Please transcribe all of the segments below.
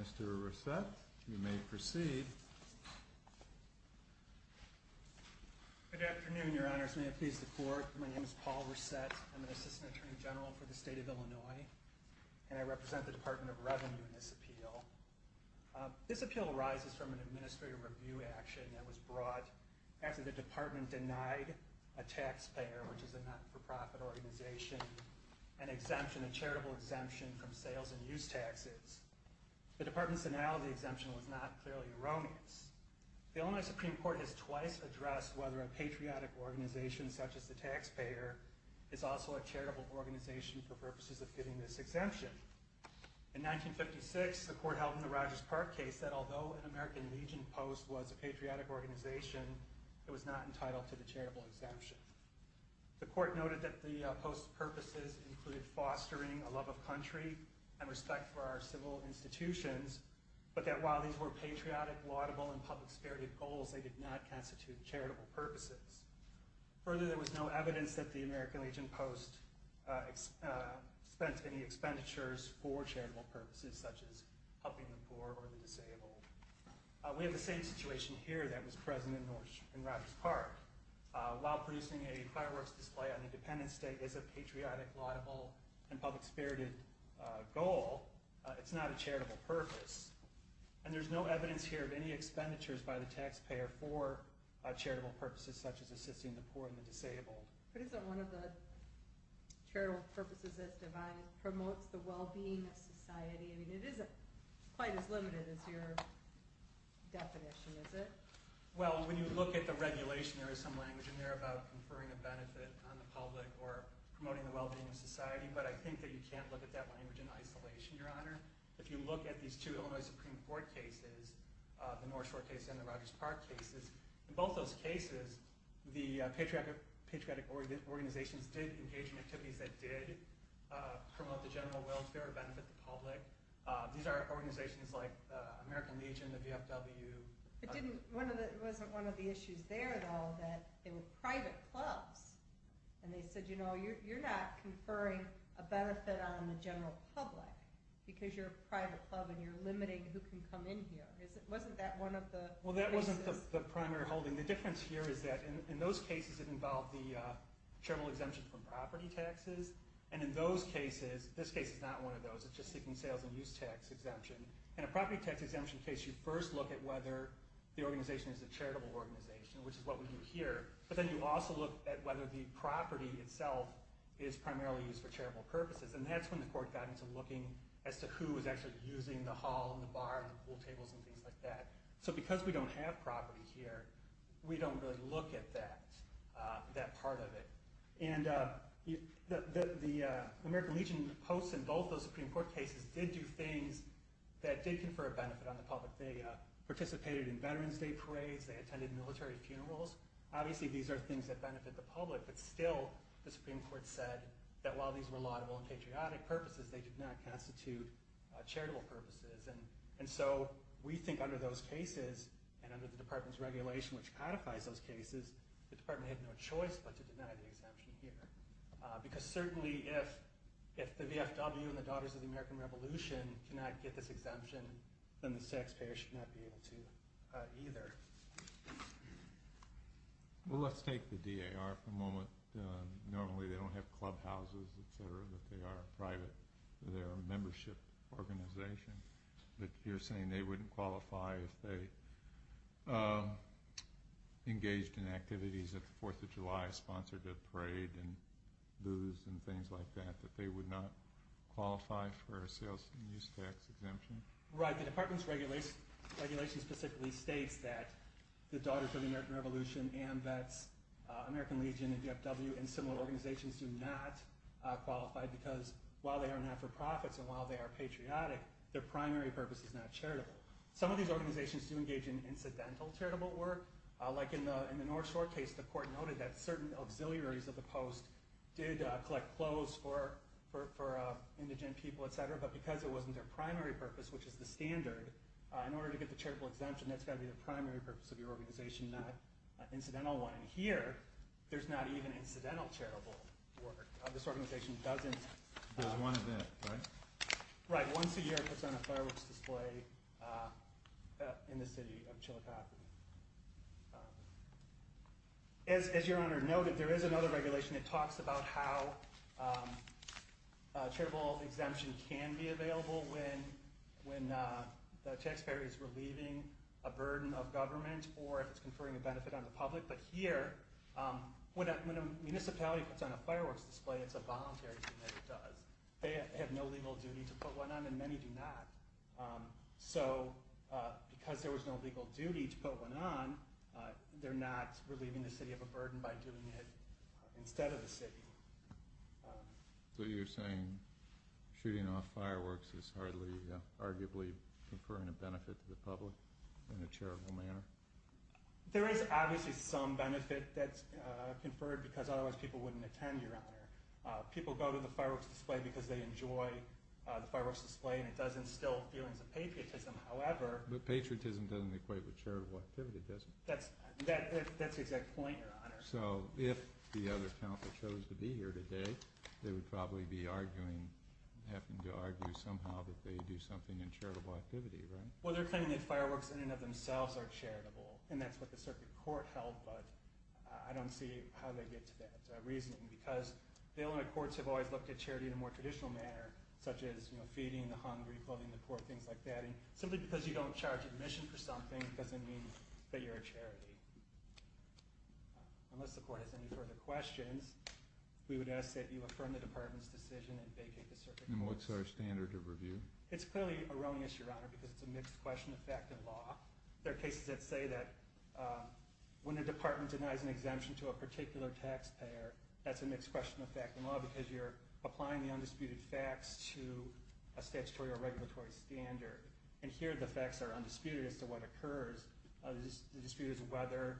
Mr. Resett, you may proceed. Good afternoon, Your Honors. May it please the Court, my name is Paul Resett. I'm an Assistant Attorney General for the State of Illinois, and I represent the Department of Revenue in this appeal. This appeal arises from an administrative review action that was brought after the Department denied a taxpayer, which is a not-for-profit organization, an exemption, a charitable exemption from sales and use taxes. The Department's denial of the exemption was not clearly erroneous. The Illinois Supreme Court has twice addressed whether a patriotic organization such as the taxpayer is also a charitable organization for purposes of getting this exemption. In 1956, the Court held in the Rogers Park case that although an American Legion post was a patriotic organization, it was not entitled to the charitable exemption. The Court noted that the post's purposes included fostering a love of country and respect for our civil institutions, but that while these were patriotic, laudable, and public security goals, they did not constitute charitable purposes. Further, there was no evidence that the American Legion post spent any expenditures for charitable purposes such as helping the poor or the disabled. We have the same situation here that was present in Rogers Park. While producing a fireworks display on Independence Day is a patriotic, laudable, and public spirited goal, it's not a charitable purpose. And there's no evidence here of any expenditures by the taxpayer for charitable purposes such as assisting the poor and the disabled. But isn't one of the charitable purposes as defined promotes the well-being of society? I mean, it isn't quite as limited as your definition, is it? Well, when you look at the regulation, there is some language in there about conferring a benefit on the public or promoting the well-being of society. But I think that you can't look at that language in isolation, Your Honor. If you look at these two Illinois Supreme Court cases, the Norris Court case and the Rogers Park case, in both those cases, the patriotic organizations did engage in activities that did promote the general welfare or benefit the public. These are organizations like the American Legion, the VFW. It wasn't one of the issues there, though, that they were private clubs. And they said, you know, you're not conferring a benefit on the general public because you're a private club and you're limiting who can come in here. Wasn't that one of the issues? Well, that wasn't the primary holding. The difference here is that in those cases, it involved the charitable exemption from property taxes. And in those cases, this case is not one of those, it's just seeking sales and use tax exemption. In a property tax exemption case, you first look at whether the organization is a charitable organization, which is what we do here. But then you also look at whether the property itself is primarily used for charitable purposes. And that's when the court got into looking as to who was actually using the hall and the bar and the pool tables and things like that. So because we don't have property here, we don't really look at that part of it. And the American Legion posts in both those Supreme Court cases did do things that did confer a benefit on the public. They participated in Veterans Day parades. They attended military funerals. Obviously, these are things that benefit the public. But still, the Supreme Court said that while these were laudable and patriotic purposes, they did not constitute charitable purposes. And so we think under those cases and under the department's regulation, which codifies those cases, the department had no choice but to deny the exemption here. Because certainly, if the VFW and the Daughters of the American Revolution cannot get this exemption, then the taxpayer should not be able to either. Well, let's take the DAR for a moment. Normally, they don't have clubhouses, et cetera, that they are private. They're a membership organization. But you're saying they wouldn't qualify if they engaged in activities at the Fourth of July, sponsored a parade and booze and things like that, that they would not qualify for a sales and use tax exemption? Right. The department's regulation specifically states that the Daughters of the American Revolution, AMVETS, American Legion, and VFW and similar organizations do not qualify because while they are not-for-profits and while they are patriotic, their primary purpose is not charitable. Some of these organizations do engage in incidental charitable work. Like in the North Shore case, the court noted that certain auxiliaries of the post did collect clothes for indigent people, et cetera, but because it wasn't their primary purpose, which is the standard, in order to get the charitable exemption, that's got to be the primary purpose of your organization, not an incidental one. And here, there's not even incidental charitable work. This organization doesn't- There's one event, right? Right. Once a year it puts on a fireworks display in the city of Chillicothe. As your Honor noted, there is another regulation that talks about how charitable exemption can be available when the taxpayer is relieving a burden of government or if it's conferring a benefit on the public. But here, when a municipality puts on a fireworks display, it's a voluntary thing that it does. They have no legal duty to put one on and many do not. So because there was no legal duty to put one on, they're not relieving the city of a burden by doing it instead of the city. So you're saying shooting off fireworks is hardly arguably conferring a benefit to the public in a charitable manner? There is obviously some benefit that's conferred because otherwise people wouldn't attend, Your Honor. People go to the fireworks display because they enjoy the fireworks display and it does instill feelings of patriotism. However- But patriotism doesn't equate with charitable activity, does it? That's the exact point, Your Honor. So if the other council chose to be here today, they would probably be arguing, having to argue somehow that they do something in charitable activity, right? Well, they're claiming that fireworks in and of themselves are charitable. And that's what the circuit court held, but I don't see how they get to that reasoning. Because the Illinois courts have always looked at charity in a more traditional manner, such as feeding the hungry, clothing the poor, things like that. And simply because you don't charge admission for something doesn't mean that you're a charity. Unless the court has any further questions, we would ask that you affirm the department's decision and vacate the circuit court. And what's our standard of review? It's clearly erroneous, Your Honor, because it's a mixed question of fact and law. There are cases that say that when a department denies an exemption to a particular taxpayer, that's a mixed question of fact and law because you're applying the undisputed facts to a statutory or regulatory standard. And here the facts are undisputed as to what occurs. The dispute is whether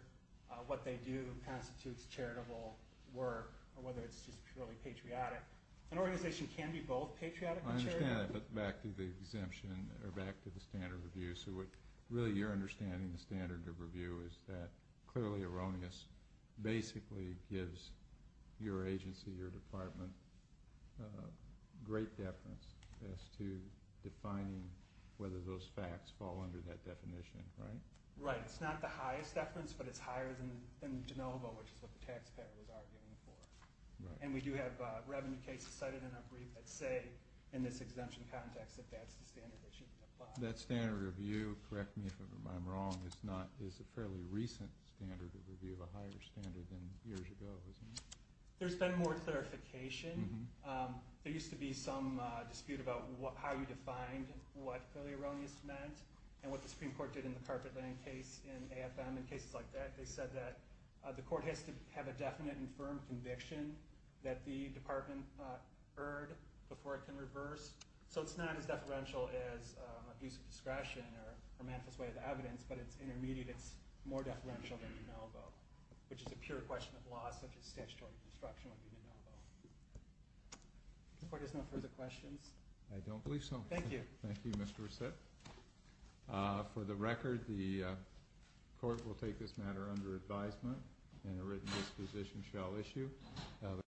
what they do constitutes charitable work or whether it's just purely patriotic. An organization can be both patriotic and charitable. I understand that, but back to the exemption or back to the standard of review. So really your understanding of the standard of review is that clearly erroneous basically gives your agency, your department, great deference as to defining whether those facts fall under that definition, right? Right. It's not the highest deference, but it's higher than the de novo, which is what the taxpayer was arguing for. And we do have revenue cases cited in our brief that say in this exemption context that that's the standard that should apply. That standard of review, correct me if I'm wrong, is a fairly recent standard of review, a higher standard than years ago, isn't it? There's been more clarification. There used to be some dispute about how you defined what clearly erroneous meant and what the Supreme Court did in the Carpet Lane case in AFM and cases like that. They said that the court has to have a definite and firm conviction that the department erred before it can reverse. So it's not as deferential as abuse of discretion or a manifest way of evidence, but it's intermediate. It's more deferential than de novo, which is a pure question of law, such as statutory obstruction would be de novo. Does the court have any further questions? I don't believe so. Thank you. Thank you, Mr. Resit. For the record, the court will take this matter under advisement and a written disposition shall issue.